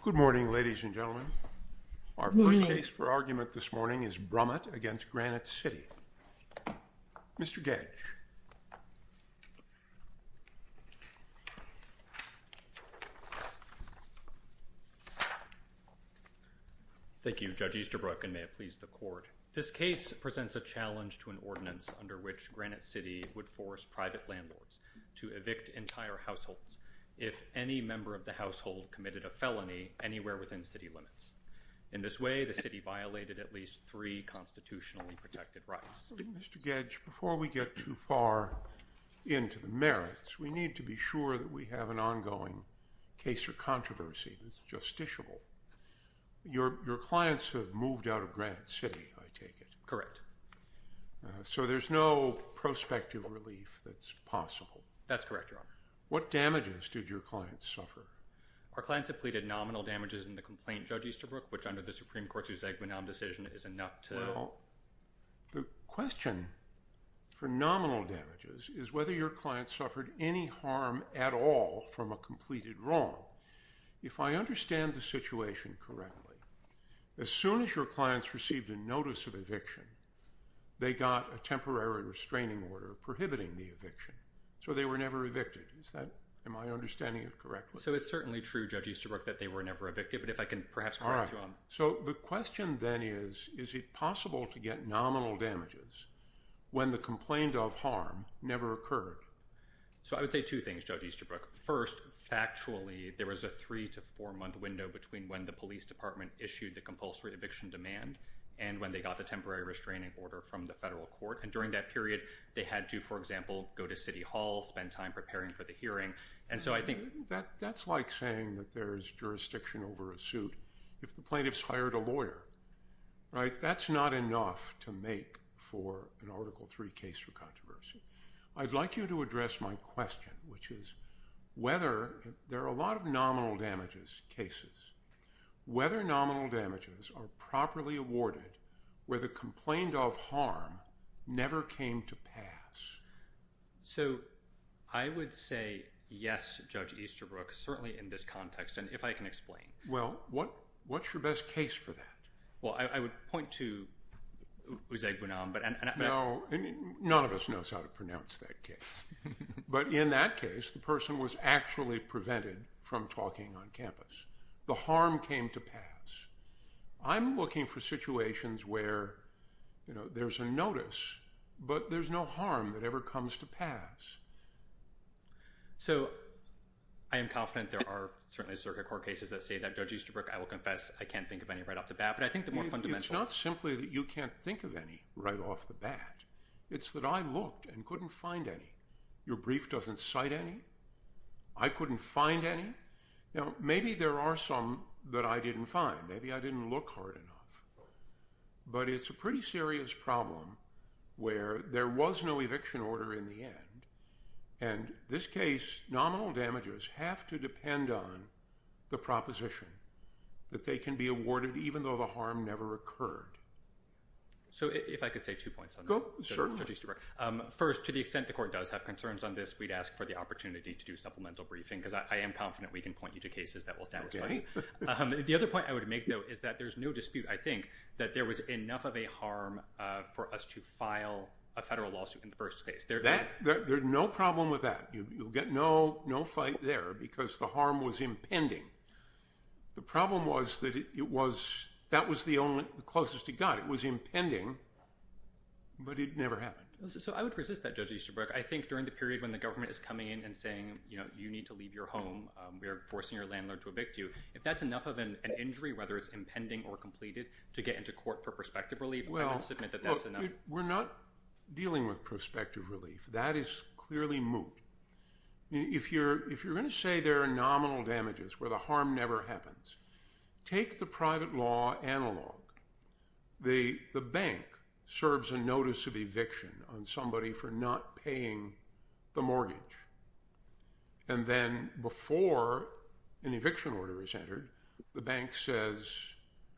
Good morning, ladies and gentlemen. Our first case for argument this morning is Brumit v. Granite City. Mr. Gage. Thank you, Judge Easterbrook, and may it please the Court. This case presents a challenge to an ordinance under which Granite City would force private landlords to evict entire households if any member of the household committed a felony anywhere within city limits. In this way, the city violated at least three constitutionally protected rights. Mr. Gage, before we get too far into the merits, we need to be sure that we have an ongoing case or controversy that's justiciable. Your clients have moved out of Granite City, I take it? Correct. So there's no prospective relief that's possible? That's correct, Your Honor. What damages did your clients suffer? Our clients have pleaded nominal damages in the complaint, Judge Easterbrook, which under the Supreme Court's ex-guenon decision is enough to… Well, the question for nominal damages is whether your clients suffered any harm at all from a completed wrong. If I understand the situation correctly, as soon as your clients received a notice of eviction, they got a temporary restraining order prohibiting the eviction, so they were never evicted. Am I understanding it correctly? So it's certainly true, Judge Easterbrook, that they were never evicted, but if I can perhaps correct you on… All right. So the question then is, is it possible to get nominal damages when the complaint of harm never occurred? So I would say two things, Judge Easterbrook. First, factually, there was a three to four month window between when the police department issued the compulsory eviction demand and when they got the temporary restraining order from the federal court, and during that period they had to, for example, go to City Hall, spend time preparing for the hearing, and so I think… That's like saying that there's jurisdiction over a suit. If the plaintiff's hired a lawyer, right, that's not enough to make for an Article III case for controversy. I'd like you to address my question, which is whether – there are a lot of nominal damages cases – whether nominal damages are properly awarded where the complaint of harm never came to pass. So I would say yes, Judge Easterbrook, certainly in this context, and if I can explain. Well, what's your best case for that? Well, I would point to Uzair Bunam, but… Now, none of us knows how to pronounce that case, but in that case the person was actually prevented from talking on campus. The harm came to pass. I'm looking for situations where there's a notice, but there's no harm that ever comes to pass. So I am confident there are certainly circuit court cases that say that Judge Easterbrook, I will confess, I can't think of any right off the bat, but I think the more fundamental… Well, it's not simply that you can't think of any right off the bat. It's that I looked and couldn't find any. Your brief doesn't cite any. I couldn't find any. Now, maybe there are some that I didn't find. Maybe I didn't look hard enough, but it's a pretty serious problem where there was no eviction order in the end, and this case, nominal damages have to depend on the proposition that they can be awarded even though the harm never occurred. So if I could say two points on that, Judge Easterbrook. First, to the extent the court does have concerns on this, we'd ask for the opportunity to do supplemental briefing, because I am confident we can point you to cases that will satisfy. The other point I would make, though, is that there's no dispute, I think, that there was enough of a harm for us to file a federal lawsuit in the first case. There's no problem with that. You'll get no fight there because the harm was impending. The problem was that that was the closest it got. It was impending, but it never happened. So I would resist that, Judge Easterbrook. I think during the period when the government is coming in and saying you need to leave your home, we are forcing your landlord to evict you, if that's enough of an injury, whether it's impending or completed, to get into court for prospective relief, I would submit that that's enough. We're not dealing with prospective relief. That is clearly moot. If you're going to say there are nominal damages where the harm never happens, take the private law analog. The bank serves a notice of eviction on somebody for not paying the mortgage, and then before an eviction order is entered, the bank says,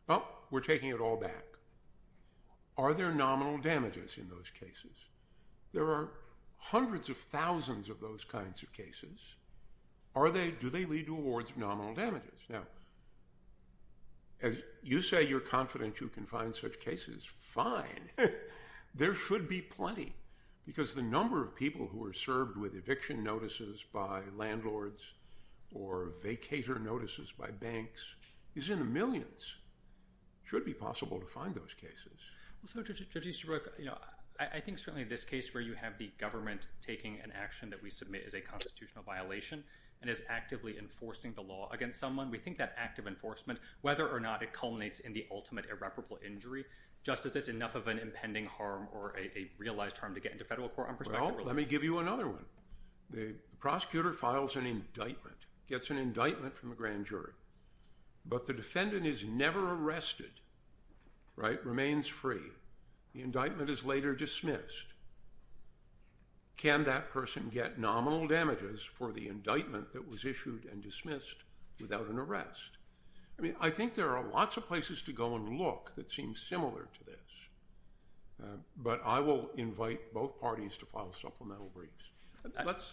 well, we're taking it all back. Are there nominal damages in those cases? There are hundreds of thousands of those kinds of cases. Do they lead to awards of nominal damages? Now, as you say you're confident you can find such cases, fine. There should be plenty, because the number of people who are served with eviction notices by landlords or vacator notices by banks is in the millions. It should be possible to find those cases. Judge Easterbrook, I think certainly this case where you have the government taking an action that we submit is a constitutional violation and is actively enforcing the law against someone, we think that active enforcement, whether or not it culminates in the ultimate irreparable injury, just as it's enough of an impending harm or a realized harm to get into federal court on prospective relief. Well, let me give you another one. The prosecutor files an indictment, gets an indictment from the grand jury, but the defendant is never arrested, remains free. The indictment is later dismissed. Can that person get nominal damages for the indictment that was issued and dismissed without an arrest? I mean, I think there are lots of places to go and look that seem similar to this, but I will invite both parties to file supplemental briefs.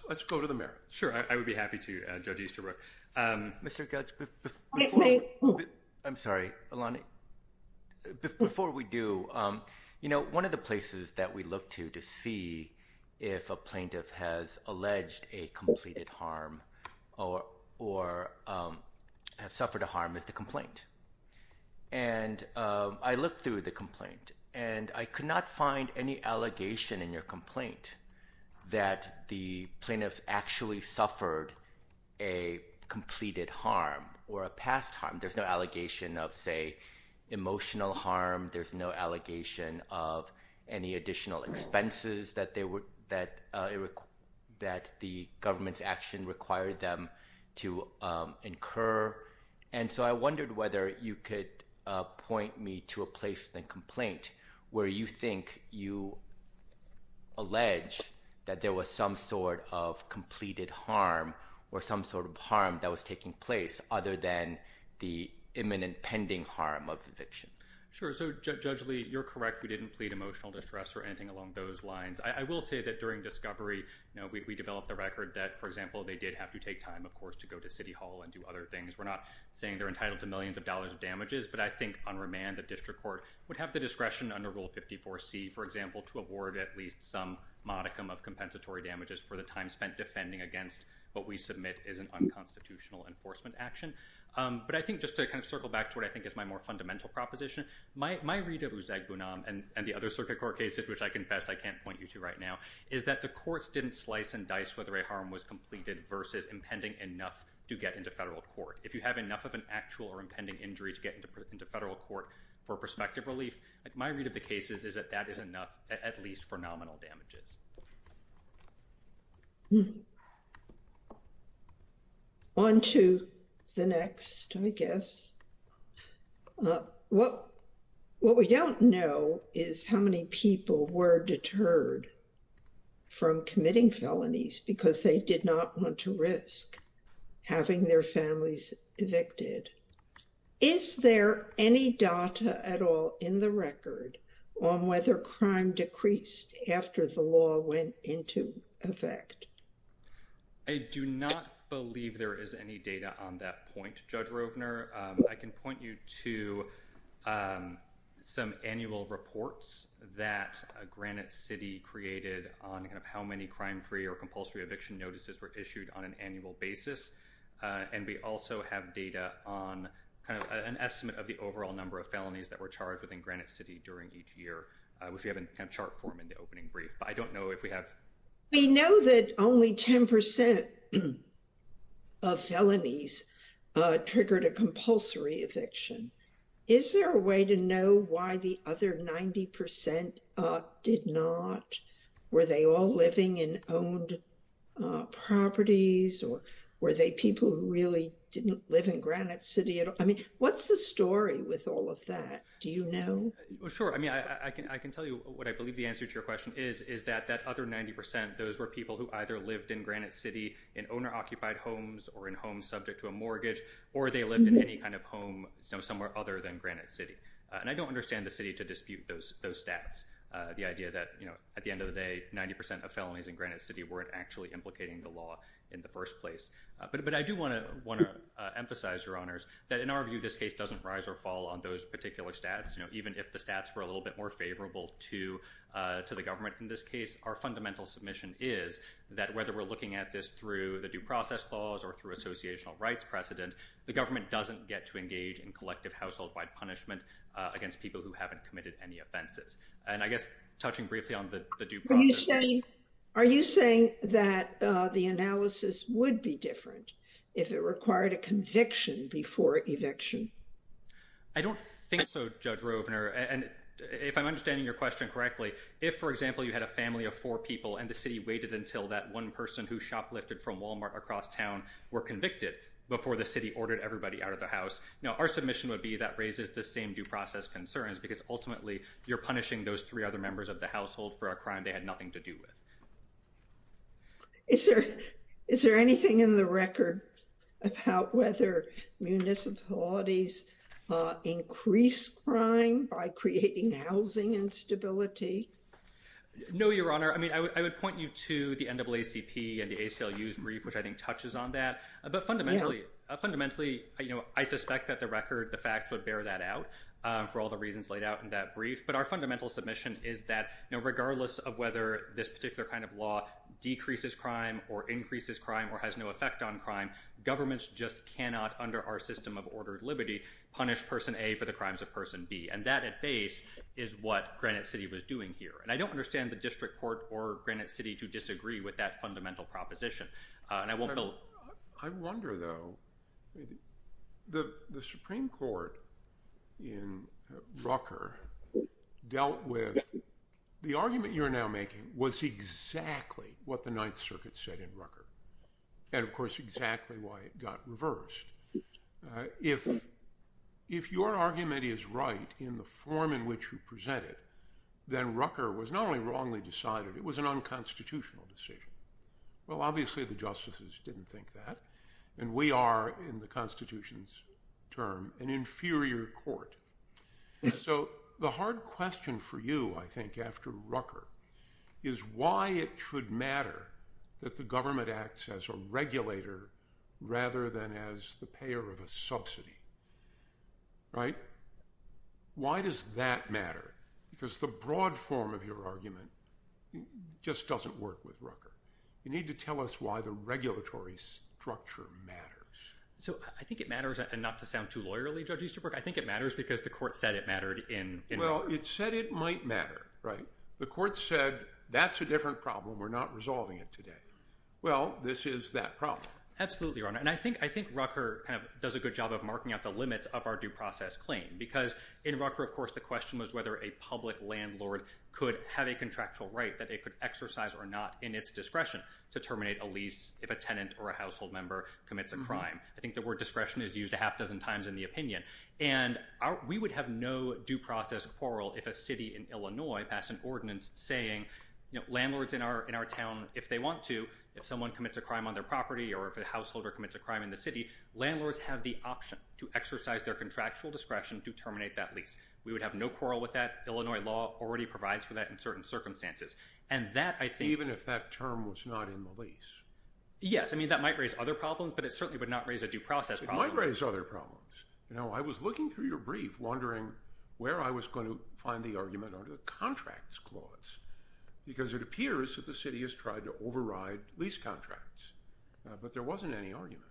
Let's go to the mayor. Sure. I would be happy to, Judge Easterbrook. Mr. Judge, I'm sorry, Alana. Before we do, you know, one of the places that we look to to see if a plaintiff has alleged a completed harm or or have suffered a harm is the complaint. And I looked through the complaint and I could not find any allegation in your complaint that the plaintiff actually suffered a completed harm or a past harm. There's no allegation of, say, emotional harm. There's no allegation of any additional expenses that the government's action required them to incur. And so I wondered whether you could point me to a place in the complaint where you think you allege that there was some sort of completed harm or some sort of harm that was taking place other than the imminent pending harm of eviction. Sure. So, Judge Lee, you're correct. We didn't plead emotional distress or anything along those lines. I will say that during discovery, you know, we developed the record that, for example, they did have to take time, of course, to go to City Hall and do other things. We're not saying they're entitled to millions of dollars of damages, but I think on remand, the district court would have the discretion under Rule 54C, for example, to award at least some modicum of compensatory damages for the time spent defending against what we submit is an unconstitutional enforcement action. But I think just to kind of circle back to what I think is my more fundamental proposition, my read of Uzeg Bunam and the other circuit court cases, which I confess I can't point you to right now, is that the courts didn't slice and dice whether a harm was completed versus impending enough to get into federal court. If you have enough of an actual or impending injury to get into federal court for prospective relief, my read of the cases is that that is enough at least for nominal damages. On to the next, I guess. What we don't know is how many people were deterred from committing felonies because they did not want to risk having their families evicted. Is there any data at all in the record on whether crime decreased after the law went into effect? I do not believe there is any data on that point, Judge Rovner. I can point you to some annual reports that Granite City created on how many crime-free or compulsory eviction notices were issued on an annual basis. And we also have data on kind of an estimate of the overall number of felonies that were charged within Granite City during each year, which we have in chart form in the opening brief. We know that only 10% of felonies triggered a compulsory eviction. Is there a way to know why the other 90% did not? Were they all living in owned properties or were they people who really didn't live in Granite City at all? I mean, what's the story with all of that? Do you know? Sure. I mean, I can tell you what I believe the answer to your question is, is that that other 90%, those were people who either lived in Granite City in owner-occupied homes or in homes subject to a mortgage, or they lived in any kind of home somewhere other than Granite City. And I don't understand the city to dispute those stats, the idea that, you know, at the end of the day, 90% of felonies in Granite City weren't actually implicating the law in the first place. But I do want to emphasize, Your Honors, that in our view, this case doesn't rise or fall on those particular stats. You know, even if the stats were a little bit more favorable to the government in this case, our fundamental submission is that whether we're looking at this through the due process clause or through associational rights precedent, the government doesn't get to engage in collective household-wide punishment against people who haven't committed any offenses. And I guess touching briefly on the due process. Are you saying that the analysis would be different if it required a conviction before eviction? I don't think so, Judge Rovner. And if I'm understanding your question correctly, if, for example, you had a family of four people and the city waited until that one person who shoplifted from Walmart across town were convicted before the city ordered everybody out of the house. Now, our submission would be that raises the same due process concerns because ultimately you're punishing those three other members of the household for a crime they had nothing to do with. Is there anything in the record about whether municipalities increase crime by creating housing instability? No, Your Honor. I mean, I would point you to the NAACP and the ACLU's brief, which I think touches on that. But fundamentally, I suspect that the record, the facts would bear that out for all the reasons laid out in that brief. But our fundamental submission is that regardless of whether this particular kind of law decreases crime or increases crime or has no effect on crime, governments just cannot, under our system of ordered liberty, punish person A for the crimes of person B. And that at base is what Granite City was doing here. And I don't understand the district court or Granite City to disagree with that fundamental proposition. I wonder, though, the Supreme Court in Rucker dealt with the argument you're now making was exactly what the Ninth Circuit said in Rucker and, of course, exactly why it got reversed. If your argument is right in the form in which you present it, then Rucker was not only wrongly decided, it was an unconstitutional decision. Well, obviously, the justices didn't think that. And we are, in the Constitution's term, an inferior court. So the hard question for you, I think, after Rucker, is why it should matter that the government acts as a regulator rather than as the payer of a subsidy, right? Why does that matter? Because the broad form of your argument just doesn't work with Rucker. You need to tell us why the regulatory structure matters. So I think it matters, and not to sound too lawyerly, Judge Easterbrook, I think it matters because the court said it mattered in Rucker. Well, it said it might matter, right? The court said, that's a different problem. We're not resolving it today. Well, this is that problem. Absolutely, Your Honor. And I think Rucker kind of does a good job of marking out the limits of our due process claim. Because in Rucker, of course, the question was whether a public landlord could have a contractual right that they could exercise or not in its discretion to terminate a lease if a tenant or a household member commits a crime. I think the word discretion is used a half dozen times in the opinion. And we would have no due process quarrel if a city in Illinois passed an ordinance saying landlords in our town, if they want to, if someone commits a crime on their property or if a householder commits a crime in the city, landlords have the option to exercise their contractual discretion to terminate that lease. We would have no quarrel with that. Illinois law already provides for that in certain circumstances. And that, I think… Even if that term was not in the lease. Yes. I mean, that might raise other problems, but it certainly would not raise a due process problem. It might raise other problems. You know, I was looking through your brief wondering where I was going to find the argument under the Contracts Clause. Because it appears that the city has tried to override lease contracts. But there wasn't any argument.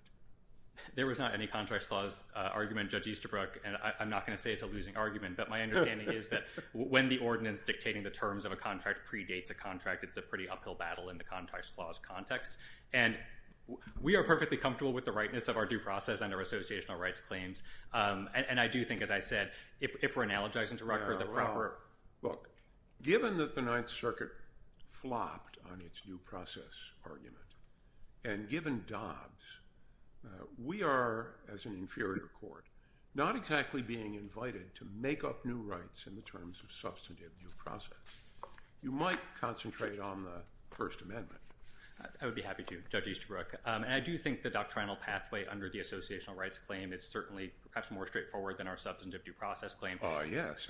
There was not any Contracts Clause argument, Judge Easterbrook, and I'm not going to say it's a losing argument. But my understanding is that when the ordinance dictating the terms of a contract predates a contract, it's a pretty uphill battle in the Contracts Clause context. And we are perfectly comfortable with the rightness of our due process and our associational rights claims. And I do think, as I said, if we're analogizing to Rutger, the proper… Well, look, given that the Ninth Circuit flopped on its due process argument, and given Dobbs, we are, as an inferior court, not exactly being invited to make up new rights in the terms of substantive due process. You might concentrate on the First Amendment. I would be happy to, Judge Easterbrook. And I do think the doctrinal pathway under the associational rights claim is certainly perhaps more straightforward than our substantive due process claim. Ah, yes.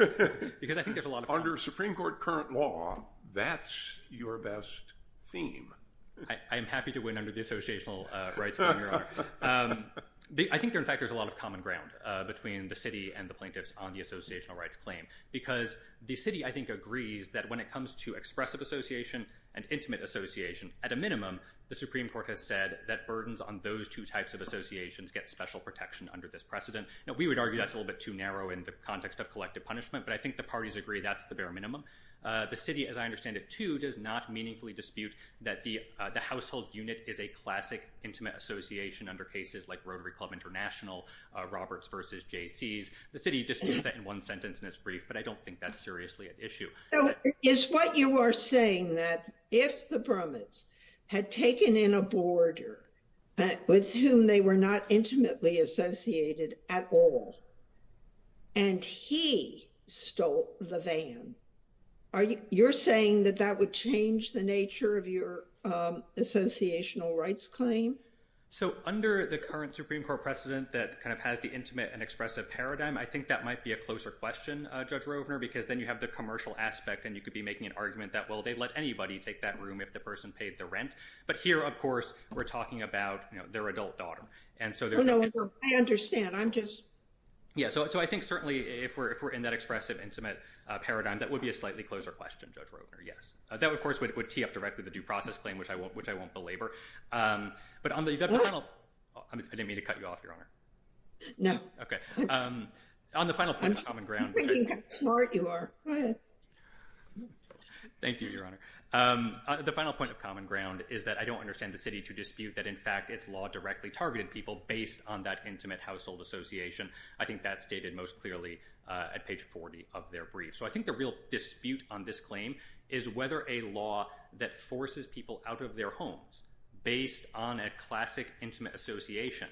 Because I think there's a lot of… Under Supreme Court current law, that's your best theme. I am happy to win under the associational rights claim, Your Honor. I think, in fact, there's a lot of common ground between the city and the plaintiffs on the associational rights claim. Because the city, I think, agrees that when it comes to expressive association and intimate association, at a minimum, the Supreme Court has said that burdens on those two types of associations get special protection under this precedent. Now, we would argue that's a little bit too narrow in the context of collective punishment, but I think the parties agree that's the bare minimum. The city, as I understand it, too, does not meaningfully dispute that the household unit is a classic intimate association under cases like Rotary Club International, Roberts v. Jaycees. The city disputes that in one sentence in its brief, but I don't think that's seriously at issue. So is what you are saying that if the brummets had taken in a boarder with whom they were not intimately associated at all and he stole the van, you're saying that that would change the nature of your associational rights claim? So under the current Supreme Court precedent that kind of has the intimate and expressive paradigm, I think that might be a closer question, Judge Rovner, because then you have the commercial aspect and you could be making an argument that, well, they'd let anybody take that room if the person paid the rent. But here, of course, we're talking about their adult daughter. Oh, no, I understand. I'm just— Yeah, so I think certainly if we're in that expressive intimate paradigm, that would be a slightly closer question, Judge Rovner, yes. That, of course, would tee up directly the due process claim, which I won't belabor. But on the final— What? I didn't mean to cut you off, Your Honor. No. Okay. On the final point of common ground— I'm thinking how smart you are. Go ahead. Thank you, Your Honor. The final point of common ground is that I don't understand the city to dispute that, in fact, its law directly targeted people based on that intimate household association. I think that's stated most clearly at page 40 of their brief. So I think the real dispute on this claim is whether a law that forces people out of their homes based on a classic intimate association,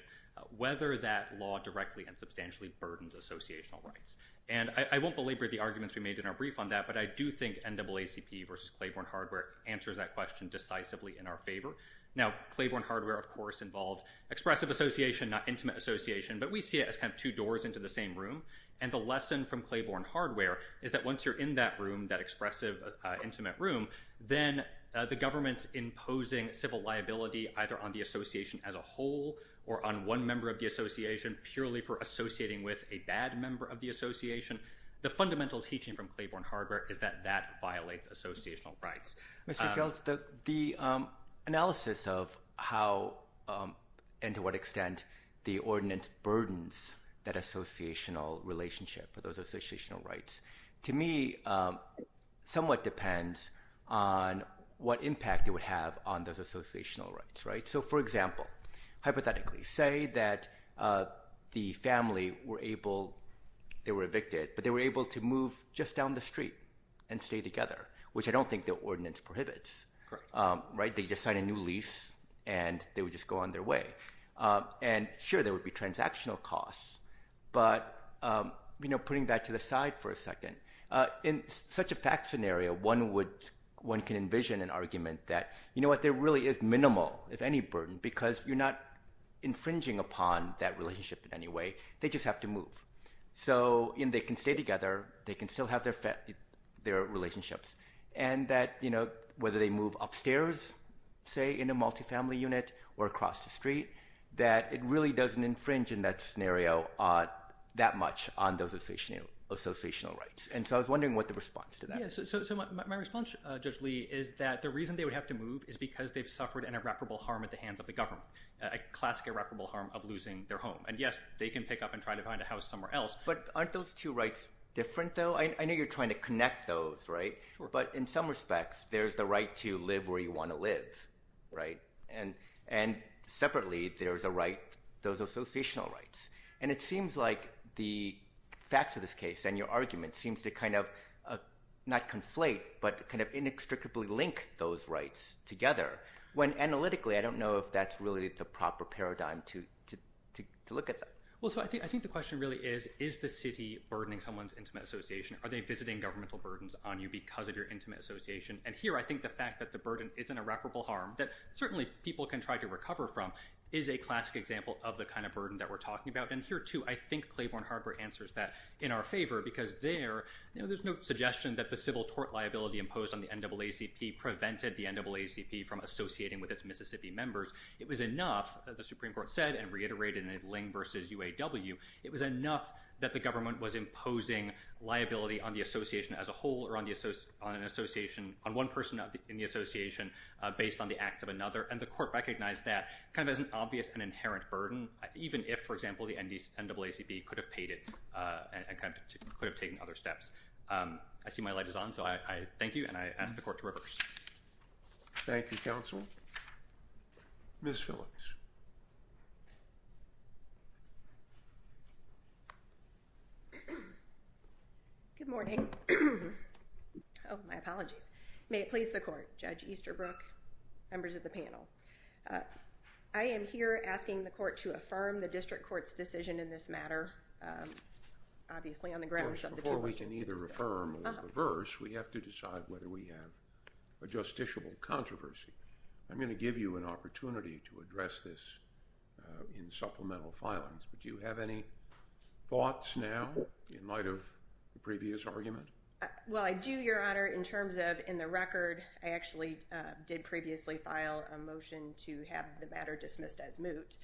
whether that law directly and substantially burdens associational rights. And I won't belabor the arguments we made in our brief on that, but I do think NAACP versus Claiborne Hardware answers that question decisively in our favor. Now, Claiborne Hardware, of course, involved expressive association, not intimate association, but we see it as kind of two doors into the same room. And the lesson from Claiborne Hardware is that once you're in that room, that expressive intimate room, then the government's imposing civil liability either on the association as a whole or on one member of the association purely for associating with a bad member of the association. The fundamental teaching from Claiborne Hardware is that that violates associational rights. The analysis of how and to what extent the ordinance burdens that associational relationship or those associational rights, to me, somewhat depends on what impact it would have on those associational rights. So, for example, hypothetically, say that the family were able – they were evicted, but they were able to move just down the street and stay together, which I don't think the ordinance prohibits. They just sign a new lease, and they would just go on their way. And sure, there would be transactional costs, but putting that to the side for a second, in such a fact scenario, one can envision an argument that, you know what, there really is minimal. There's any burden because you're not infringing upon that relationship in any way. They just have to move. So, they can stay together. They can still have their relationships. And that, you know, whether they move upstairs, say, in a multifamily unit or across the street, that it really doesn't infringe in that scenario that much on those associational rights. And so I was wondering what the response to that is. So, my response, Judge Lee, is that the reason they would have to move is because they've suffered an irreparable harm at the hands of the government, a classic irreparable harm of losing their home. And yes, they can pick up and try to find a house somewhere else. But aren't those two rights different, though? I know you're trying to connect those, right? Sure. But in some respects, there's the right to live where you want to live, right? And separately, there's a right – those associational rights. And it seems like the facts of this case and your argument seems to kind of not conflate but kind of inextricably link those rights together. When analytically, I don't know if that's really the proper paradigm to look at that. Well, so I think the question really is, is the city burdening someone's intimate association? Are they visiting governmental burdens on you because of your intimate association? And here, I think the fact that the burden is an irreparable harm that certainly people can try to recover from is a classic example of the kind of burden that we're talking about. And here, too, I think Claiborne Harbor answers that in our favor because there, you know, there's no suggestion that the civil tort liability imposed on the NAACP prevented the NAACP from associating with its Mississippi members. It was enough that the Supreme Court said and reiterated in Ling v. UAW, it was enough that the government was imposing liability on the association as a whole or on one person in the association based on the acts of another. And the court recognized that kind of as an obvious and inherent burden, even if, for example, the NAACP could have paid it and could have taken other steps. I see my light is on, so I thank you, and I ask the court to rehearse. Thank you, counsel. Ms. Phillips. Good morning. Oh, my apologies. May it please the court. Judge Easterbrook, members of the panel. I am here asking the court to affirm the district court's decision in this matter, obviously on the grounds of the two reasons. We have to decide whether we have a justiciable controversy. I'm going to give you an opportunity to address this in supplemental filings, but do you have any thoughts now in light of the previous argument? Well, I do, Your Honor, in terms of in the record, I actually did previously file a motion to have the matter dismissed as moot.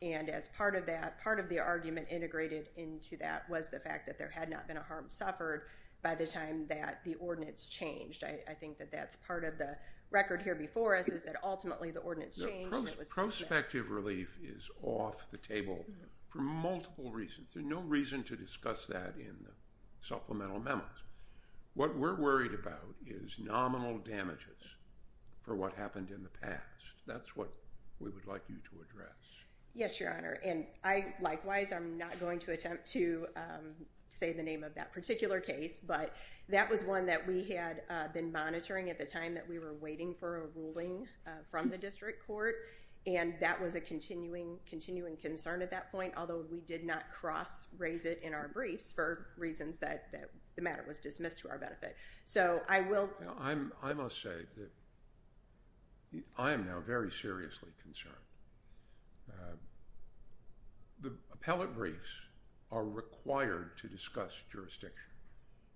And as part of that, part of the argument integrated into that was the fact that there had not been a harm suffered by the time that the ordinance changed. I think that that's part of the record here before us is that ultimately the ordinance changed. Prospective relief is off the table for multiple reasons. There's no reason to discuss that in the supplemental memos. What we're worried about is nominal damages for what happened in the past. That's what we would like you to address. Yes, Your Honor. And likewise, I'm not going to attempt to say the name of that particular case, but that was one that we had been monitoring at the time that we were waiting for a ruling from the district court. And that was a continuing concern at that point, although we did not cross-raise it in our briefs for reasons that the matter was dismissed to our benefit. I must say that I am now very seriously concerned. The appellate briefs are required to discuss jurisdiction.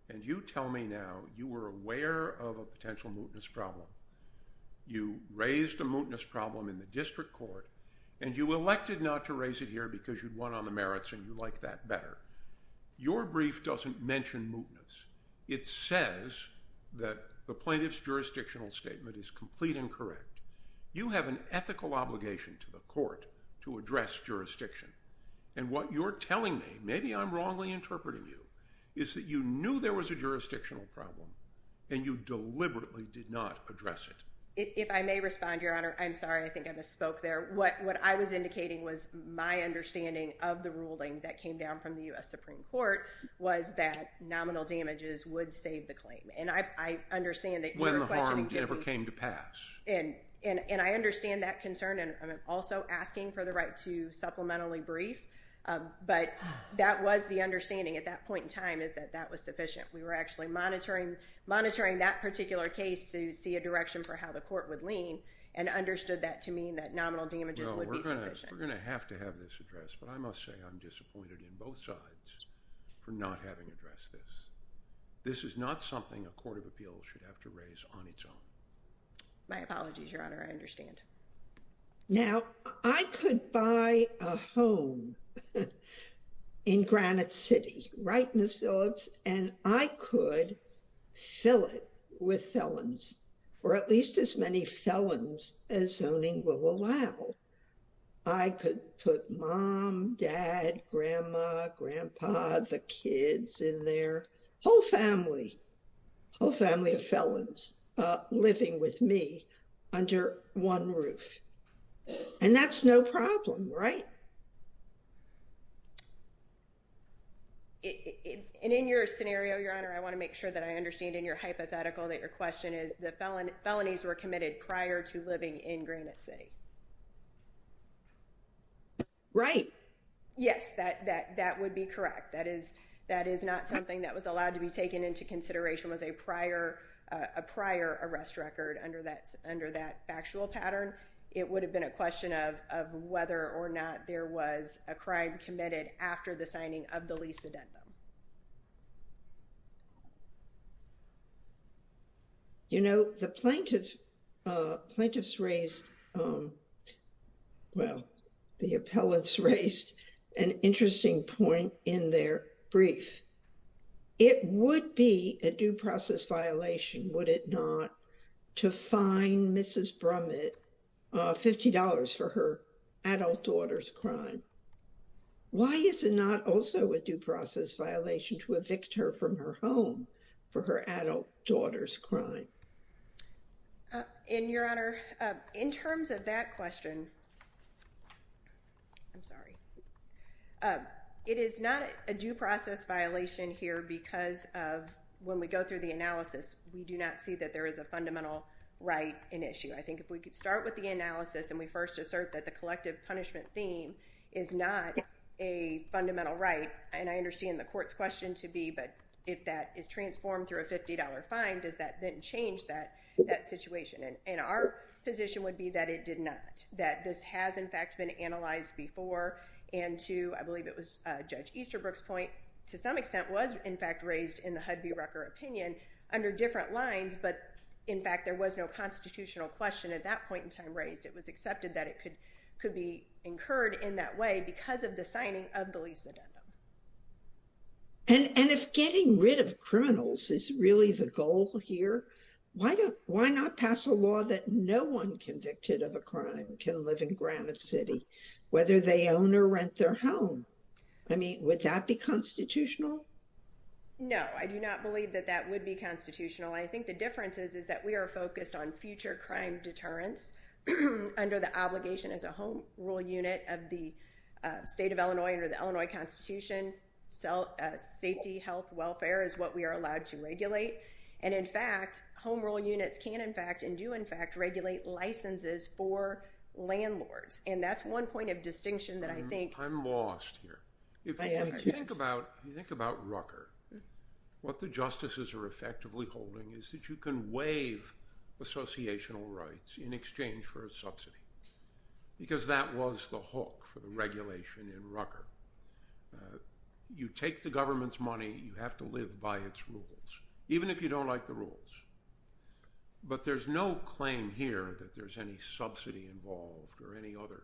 And you tell me now you were aware of a potential mootness problem. You raised a mootness problem in the district court, and you elected not to raise it here because you'd won on the merits and you like that better. Your brief doesn't mention mootness. It says that the plaintiff's jurisdictional statement is complete and correct. You have an ethical obligation to the court to address jurisdiction. And what you're telling me, maybe I'm wrongly interpreting you, is that you knew there was a jurisdictional problem, and you deliberately did not address it. If I may respond, Your Honor, I'm sorry. I think I misspoke there. Your Honor, what I was indicating was my understanding of the ruling that came down from the U.S. Supreme Court was that nominal damages would save the claim. And I understand that you were questioning. When the harm ever came to pass. And I understand that concern. And I'm also asking for the right to supplementally brief. But that was the understanding at that point in time is that that was sufficient. We were actually monitoring that particular case to see a direction for how the court would lean and understood that to mean that nominal damages would be sufficient. No, we're going to have to have this addressed. But I must say I'm disappointed in both sides for not having addressed this. This is not something a court of appeals should have to raise on its own. My apologies, Your Honor. I understand. Now, I could buy a home in Granite City. Right, Ms. Phillips? And I could fill it with felons or at least as many felons as zoning will allow. I could put mom, dad, grandma, grandpa, the kids in there. Whole family. Whole family of felons living with me under one roof. And that's no problem, right? And in your scenario, Your Honor, I want to make sure that I understand in your hypothetical that your question is that felonies were committed prior to living in Granite City. Right. Yes, that would be correct. That is not something that was allowed to be taken into consideration as a prior arrest record under that factual pattern. It would have been a question of whether or not there was a crime committed after the signing of the lease addendum. You know, the plaintiffs raised, well, the appellants raised an interesting point in their brief. It would be a due process violation, would it not, to fine Mrs. Brummett $50 for her adult daughter's crime. Why is it not also a due process violation to evict her from her home for her adult daughter's crime? And, Your Honor, in terms of that question, I'm sorry. It is not a due process violation here because of when we go through the analysis, we do not see that there is a fundamental right in issue. I think if we could start with the analysis and we first assert that the collective punishment theme is not a fundamental right, and I understand the court's question to be, but if that is transformed through a $50 fine, does that then change that situation? And our position would be that it did not, that this has, in fact, been analyzed before and to, I believe it was Judge Easterbrook's point, to some extent was, in fact, raised in the Hudvey-Rucker opinion under different lines. But, in fact, there was no constitutional question at that point in time raised. It was accepted that it could be incurred in that way because of the signing of the lease addendum. And if getting rid of criminals is really the goal here, why not pass a law that no one convicted of a crime can live in Granite City, whether they own or rent their home? I mean, would that be constitutional? No, I do not believe that that would be constitutional. I think the difference is that we are focused on future crime deterrence under the obligation as a home rule unit of the state of Illinois under the Illinois Constitution. Safety, health, welfare is what we are allowed to regulate. And, in fact, home rule units can, in fact, and do, in fact, regulate licenses for landlords. And that's one point of distinction that I think – I'm lost here. If you think about Rucker, what the justices are effectively holding is that you can waive associational rights in exchange for a subsidy because that was the hook for the regulation in Rucker. You take the government's money. You have to live by its rules, even if you don't like the rules. But there's no claim here that there's any subsidy involved or any other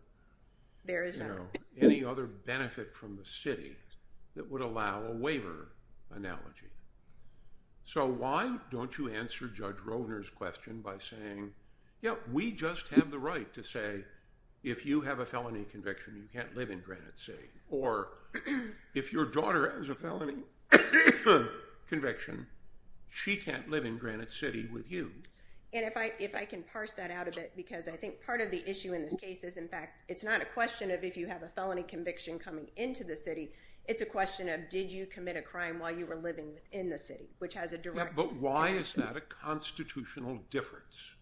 benefit from the city that would allow a waiver analogy. So why don't you answer Judge Rovner's question by saying, yeah, we just have the right to say if you have a felony conviction, you can't live in Granite City, or if your daughter has a felony conviction, she can't live in Granite City with you. And if I can parse that out a bit because I think part of the issue in this case is, in fact, it's not a question of if you have a felony conviction coming into the city. It's a question of did you commit a crime while you were living in the city, which has a direct – Yeah, but why is that a constitutional difference?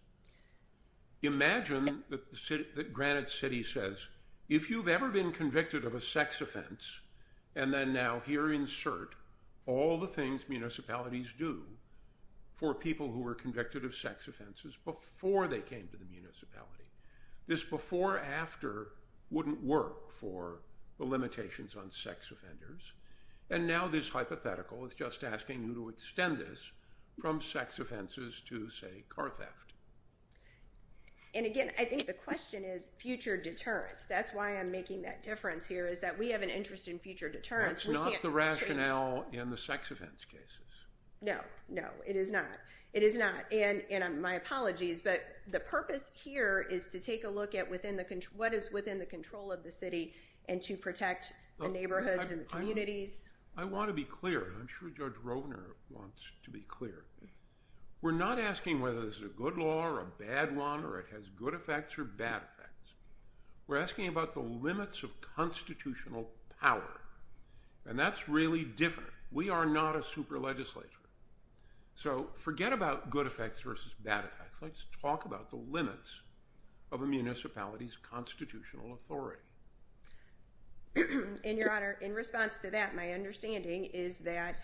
Imagine that Granite City says, if you've ever been convicted of a sex offense – and then now here insert all the things municipalities do for people who were convicted of sex offenses before they came to the municipality. This before-after wouldn't work for the limitations on sex offenders. And now this hypothetical is just asking you to extend this from sex offenses to, say, car theft. And again, I think the question is future deterrence. That's why I'm making that difference here is that we have an interest in future deterrence. That's not the rationale in the sex offense cases. No, no, it is not. And my apologies, but the purpose here is to take a look at what is within the control of the city and to protect the neighborhoods and the communities. I want to be clear, and I'm sure Judge Rovner wants to be clear. We're not asking whether this is a good law or a bad one or it has good effects or bad effects. We're asking about the limits of constitutional power, and that's really different. We are not a super legislature. So forget about good effects versus bad effects. Let's talk about the limits of a municipality's constitutional authority. And, Your Honor, in response to that, my understanding is that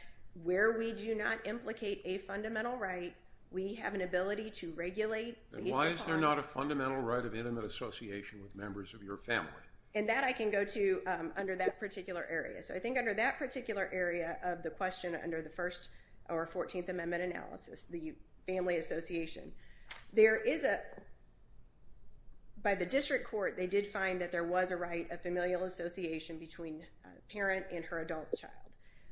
where we do not implicate a fundamental right, we have an ability to regulate. And why is there not a fundamental right of intimate association with members of your family? And that I can go to under that particular area. So I think under that particular area of the question, under the First or Fourteenth Amendment analysis, the family association, there is a— by the district court, they did find that there was a right of familial association between a parent and her adult child.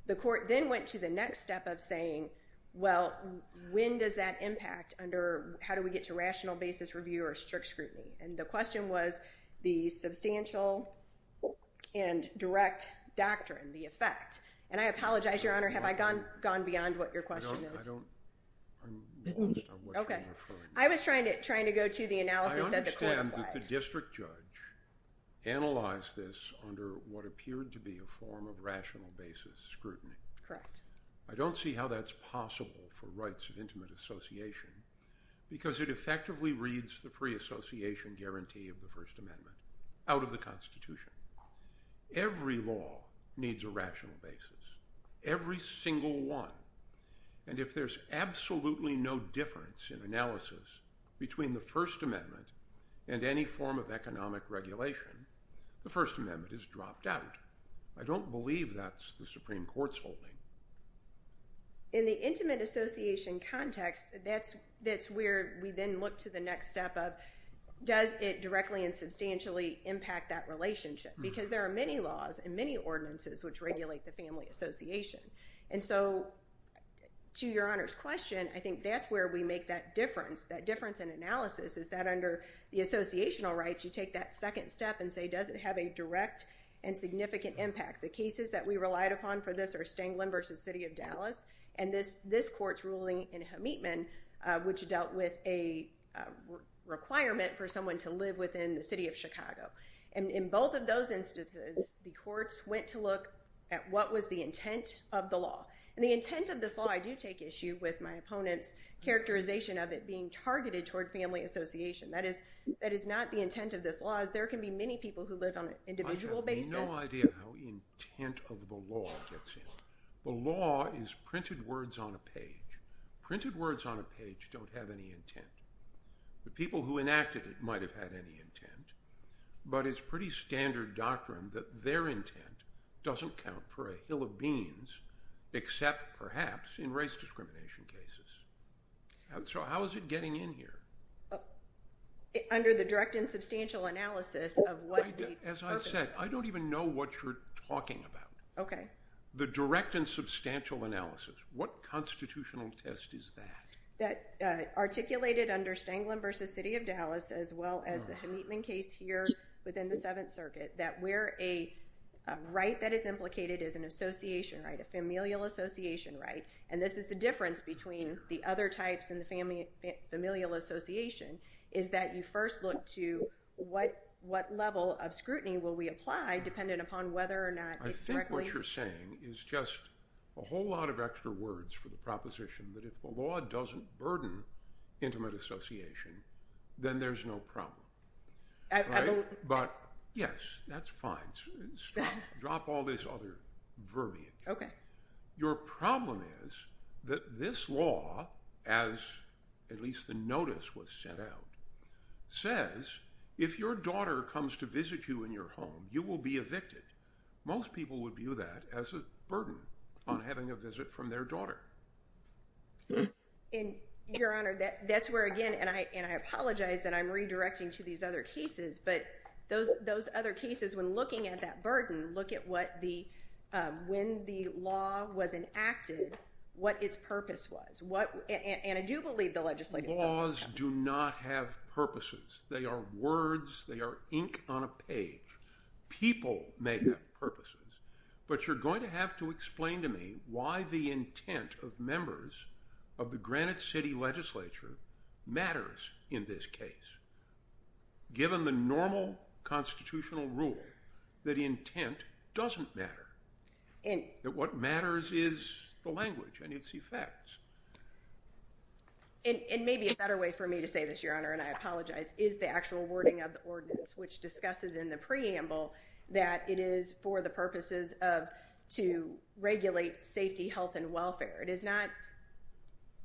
The court then went to the next step of saying, well, when does that impact under—how do we get to rational basis review or strict scrutiny? And the question was the substantial and direct doctrine, the effect. And I apologize, Your Honor, have I gone beyond what your question is? I don't—I'm lost on what you're referring to. Okay. I was trying to go to the analysis that the court applied. I understand that the district judge analyzed this under what appeared to be a form of rational basis scrutiny. Correct. I don't see how that's possible for rights of intimate association because it effectively reads the free association guarantee of the First Amendment out of the Constitution. Every law needs a rational basis. Every single one. And if there's absolutely no difference in analysis between the First Amendment and any form of economic regulation, the First Amendment is dropped out. I don't believe that's the Supreme Court's holding. In the intimate association context, that's where we then look to the next step of does it directly and substantially impact that relationship? Because there are many laws and many ordinances which regulate the family association. And so to Your Honor's question, I think that's where we make that difference. That difference in analysis is that under the associational rights, you take that second step and say does it have a direct and significant impact? The cases that we relied upon for this are Stanglin v. City of Dallas and this court's ruling in Hemetman, which dealt with a requirement for someone to live within the city of Chicago. And in both of those instances, the courts went to look at what was the intent of the law. And the intent of this law, I do take issue with my opponent's characterization of it being targeted toward family association. That is not the intent of this law, as there can be many people who live on an individual basis. I have no idea how intent of the law gets in. The law is printed words on a page. Printed words on a page don't have any intent. The people who enacted it might have had any intent, but it's pretty standard doctrine that their intent doesn't count for a hill of beans, except perhaps in race discrimination cases. So how is it getting in here? Under the direct and substantial analysis of what the purpose is. As I said, I don't even know what you're talking about. Okay. The direct and substantial analysis. What constitutional test is that? That articulated under Stanglin v. City of Dallas, as well as the Hemetman case here within the Seventh Circuit. That we're a right that is implicated as an association right, a familial association right. And this is the difference between the other types and the familial association. Is that you first look to what level of scrutiny will we apply, dependent upon whether or not. I think what you're saying is just a whole lot of extra words for the proposition that if the law doesn't burden intimate association, then there's no problem. But yes, that's fine. Drop all this other verbiage. Okay. Your problem is that this law, as at least the notice was sent out, says if your daughter comes to visit you in your home, you will be evicted. Most people would view that as a burden on having a visit from their daughter. Your Honor, that's where again, and I apologize that I'm redirecting to these other cases. But those other cases, when looking at that burden, look at when the law was enacted, what its purpose was. And I do believe the legislative process. Laws do not have purposes. They are words. They are ink on a page. People may have purposes. But you're going to have to explain to me why the intent of members of the Granite City Legislature matters in this case, given the normal constitutional rule that intent doesn't matter. That what matters is the language and its effects. It may be a better way for me to say this, Your Honor, and I apologize, is the actual wording of the ordinance, which discusses in the preamble that it is for the purposes of to regulate safety, health and welfare. It is not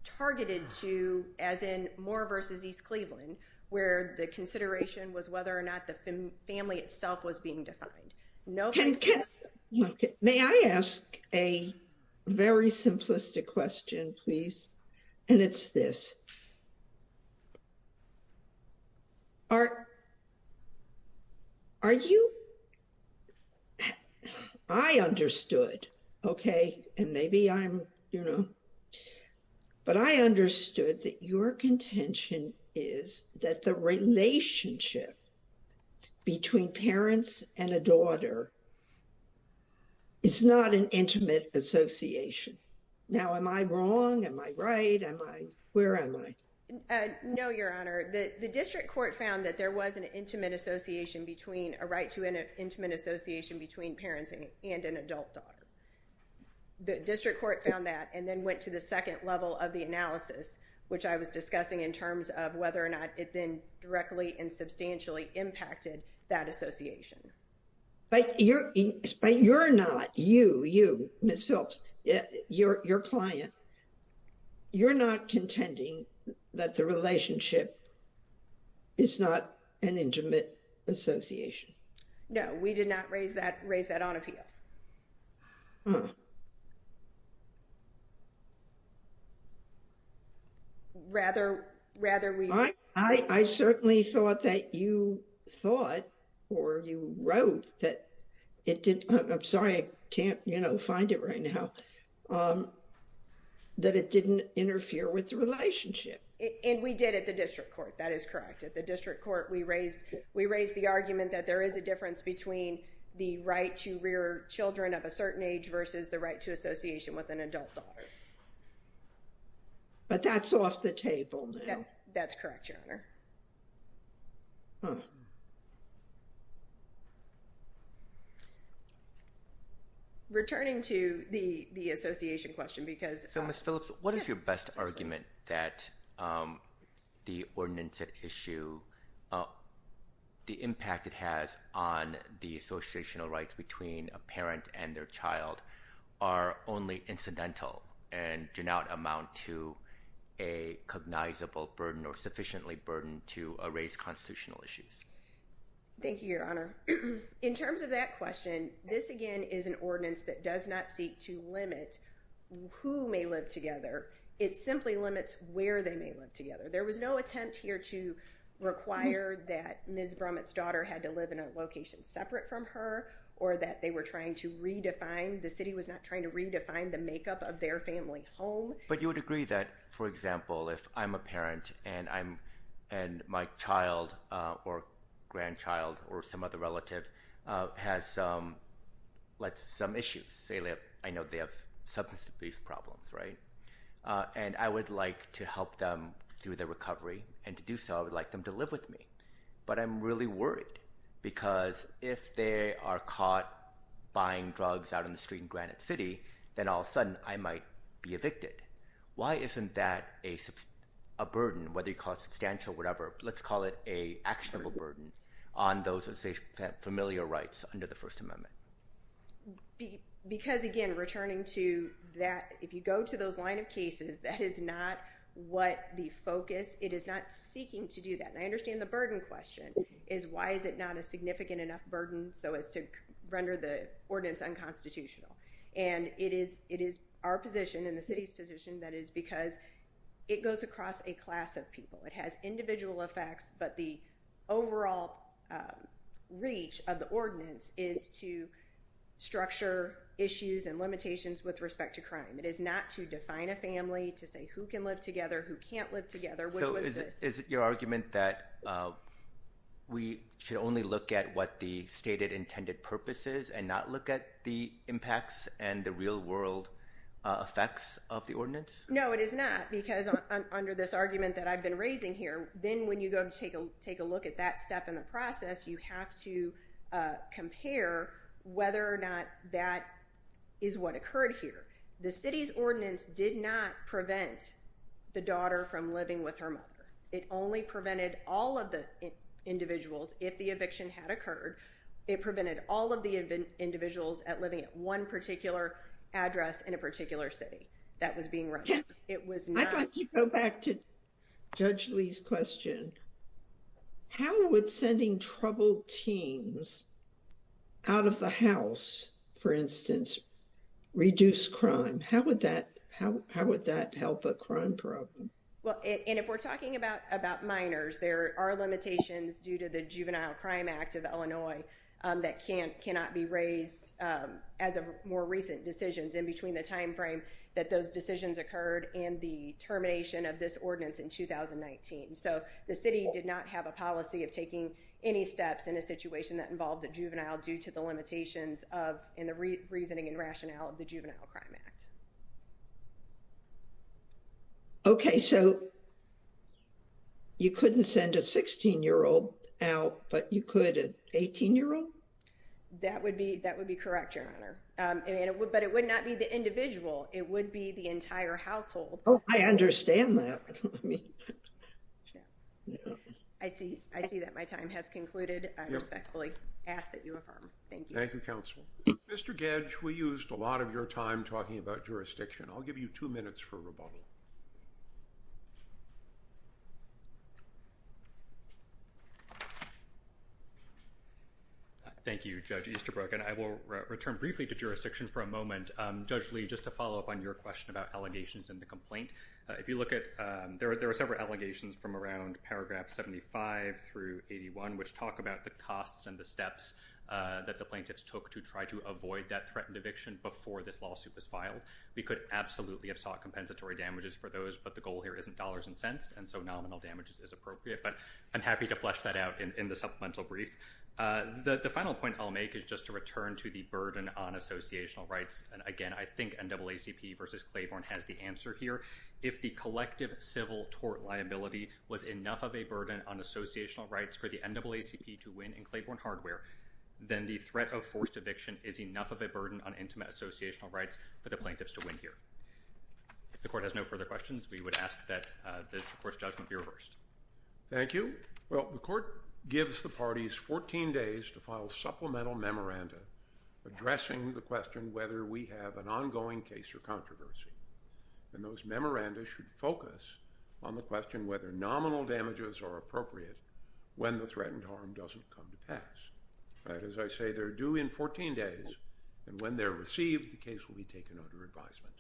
targeted to, as in Moore versus East Cleveland, where the consideration was whether or not the family itself was being defined. May I ask a very simplistic question, please? And it's this. Are you. I understood. Okay. And maybe I'm, you know. But I understood that your contention is that the relationship between parents and a daughter. It's not an intimate association. Now, am I wrong? Am I right? Am I? Where am I? No, Your Honor, the district court found that there was an intimate association between a right to an intimate association between parents and an adult daughter. The district court found that and then went to the second level of the analysis, which I was discussing in terms of whether or not it then directly and substantially impacted that association. But you're not, you, you, Ms. Phelps, your client. You're not contending that the relationship is not an intimate association. No, we did not raise that, raise that on appeal. Rather, rather we. I certainly thought that you thought or you wrote that it did. I'm sorry, I can't, you know, find it right now. That it didn't interfere with the relationship. And we did at the district court. That is correct. At the district court, we raised, we raised the argument that there is a difference between the right to rear children of a certain age versus the right to association with an adult daughter. But that's off the table now. That's correct, Your Honor. Returning to the, the association question because. So, Ms. Phillips, what is your best argument that the ordinance at issue, the impact it has on the associational rights between a parent and their child are only incidental and do not amount to a cognizable burden or sufficiently burden to a raise constitutional issues? Thank you, Your Honor. In terms of that question, this again is an ordinance that does not seek to limit who may live together. It simply limits where they may live together. There was no attempt here to require that Ms. Brummett's daughter had to live in a location separate from her or that they were trying to redefine the city was not trying to redefine the makeup of their family home. But you would agree that, for example, if I'm a parent and I'm and my child or grandchild or some other relative has some let's some issues. I know they have substance abuse problems, right? And I would like to help them through their recovery. And to do so, I would like them to live with me. But I'm really worried because if they are caught buying drugs out in the street in Granite City, then all of a sudden I might be evicted. Why isn't that a burden, whether you call it substantial, whatever, let's call it a actionable burden on those familiar rights under the First Amendment? Because, again, returning to that, if you go to those line of cases, that is not what the focus it is not seeking to do that. And I understand the burden question is, why is it not a significant enough burden? So as to render the ordinance unconstitutional and it is it is our position in the city's position. That is because it goes across a class of people. It has individual effects, but the overall reach of the ordinance is to structure issues and limitations with respect to crime. It is not to define a family to say who can live together, who can't live together. So is it your argument that we should only look at what the stated intended purpose is and not look at the impacts and the real world effects of the ordinance? No, it is not, because under this argument that I've been raising here, then when you go to take a look at that step in the process, you have to compare whether or not that is what occurred here. The city's ordinance did not prevent the daughter from living with her mother. It only prevented all of the individuals if the eviction had occurred. It prevented all of the individuals at living at one particular address in a particular city that was being run. I thought you'd go back to Judge Lee's question. How would sending troubled teens out of the house, for instance, reduce crime? How would that help a crime problem? Well, and if we're talking about minors, there are limitations due to the Juvenile Crime Act of Illinois that cannot be raised as of more recent decisions in between the time frame that those decisions occurred and the termination of this ordinance in 2019. So the city did not have a policy of taking any steps in a situation that involved a juvenile due to the limitations of and the reasoning and rationale of the Juvenile Crime Act. Okay, so you couldn't send a 16-year-old out, but you could an 18-year-old? That would be correct, Your Honor. But it would not be the individual. It would be the entire household. Oh, I understand that. I see that my time has concluded. I respectfully ask that you affirm. Thank you. Thank you, Counsel. Mr. Gedge, we used a lot of your time talking about jurisdiction. I'll give you two minutes for rebuttal. Thank you, Judge Easterbrook, and I will return briefly to jurisdiction for a moment. Judge Lee, just to follow up on your question about allegations in the complaint, there are several allegations from around paragraph 75 through 81, which talk about the costs and the steps that the plaintiffs took to try to avoid that threatened eviction before this lawsuit was filed. We could absolutely have sought compensatory damages for those, but the goal here isn't dollars and cents, and so nominal damages is appropriate. But I'm happy to flesh that out in the supplemental brief. The final point I'll make is just to return to the burden on associational rights. And, again, I think NAACP versus Claiborne has the answer here. If the collective civil tort liability was enough of a burden on associational rights for the NAACP to win in Claiborne Hardware, then the threat of forced eviction is enough of a burden on intimate associational rights for the plaintiffs to win here. If the court has no further questions, we would ask that this court's judgment be reversed. Thank you. Well, the court gives the parties 14 days to file supplemental memoranda addressing the question whether we have an ongoing case or controversy. And those memoranda should focus on the question whether nominal damages are appropriate when the threatened harm doesn't come to pass. That is, I say they're due in 14 days, and when they're received, the case will be taken under advisement.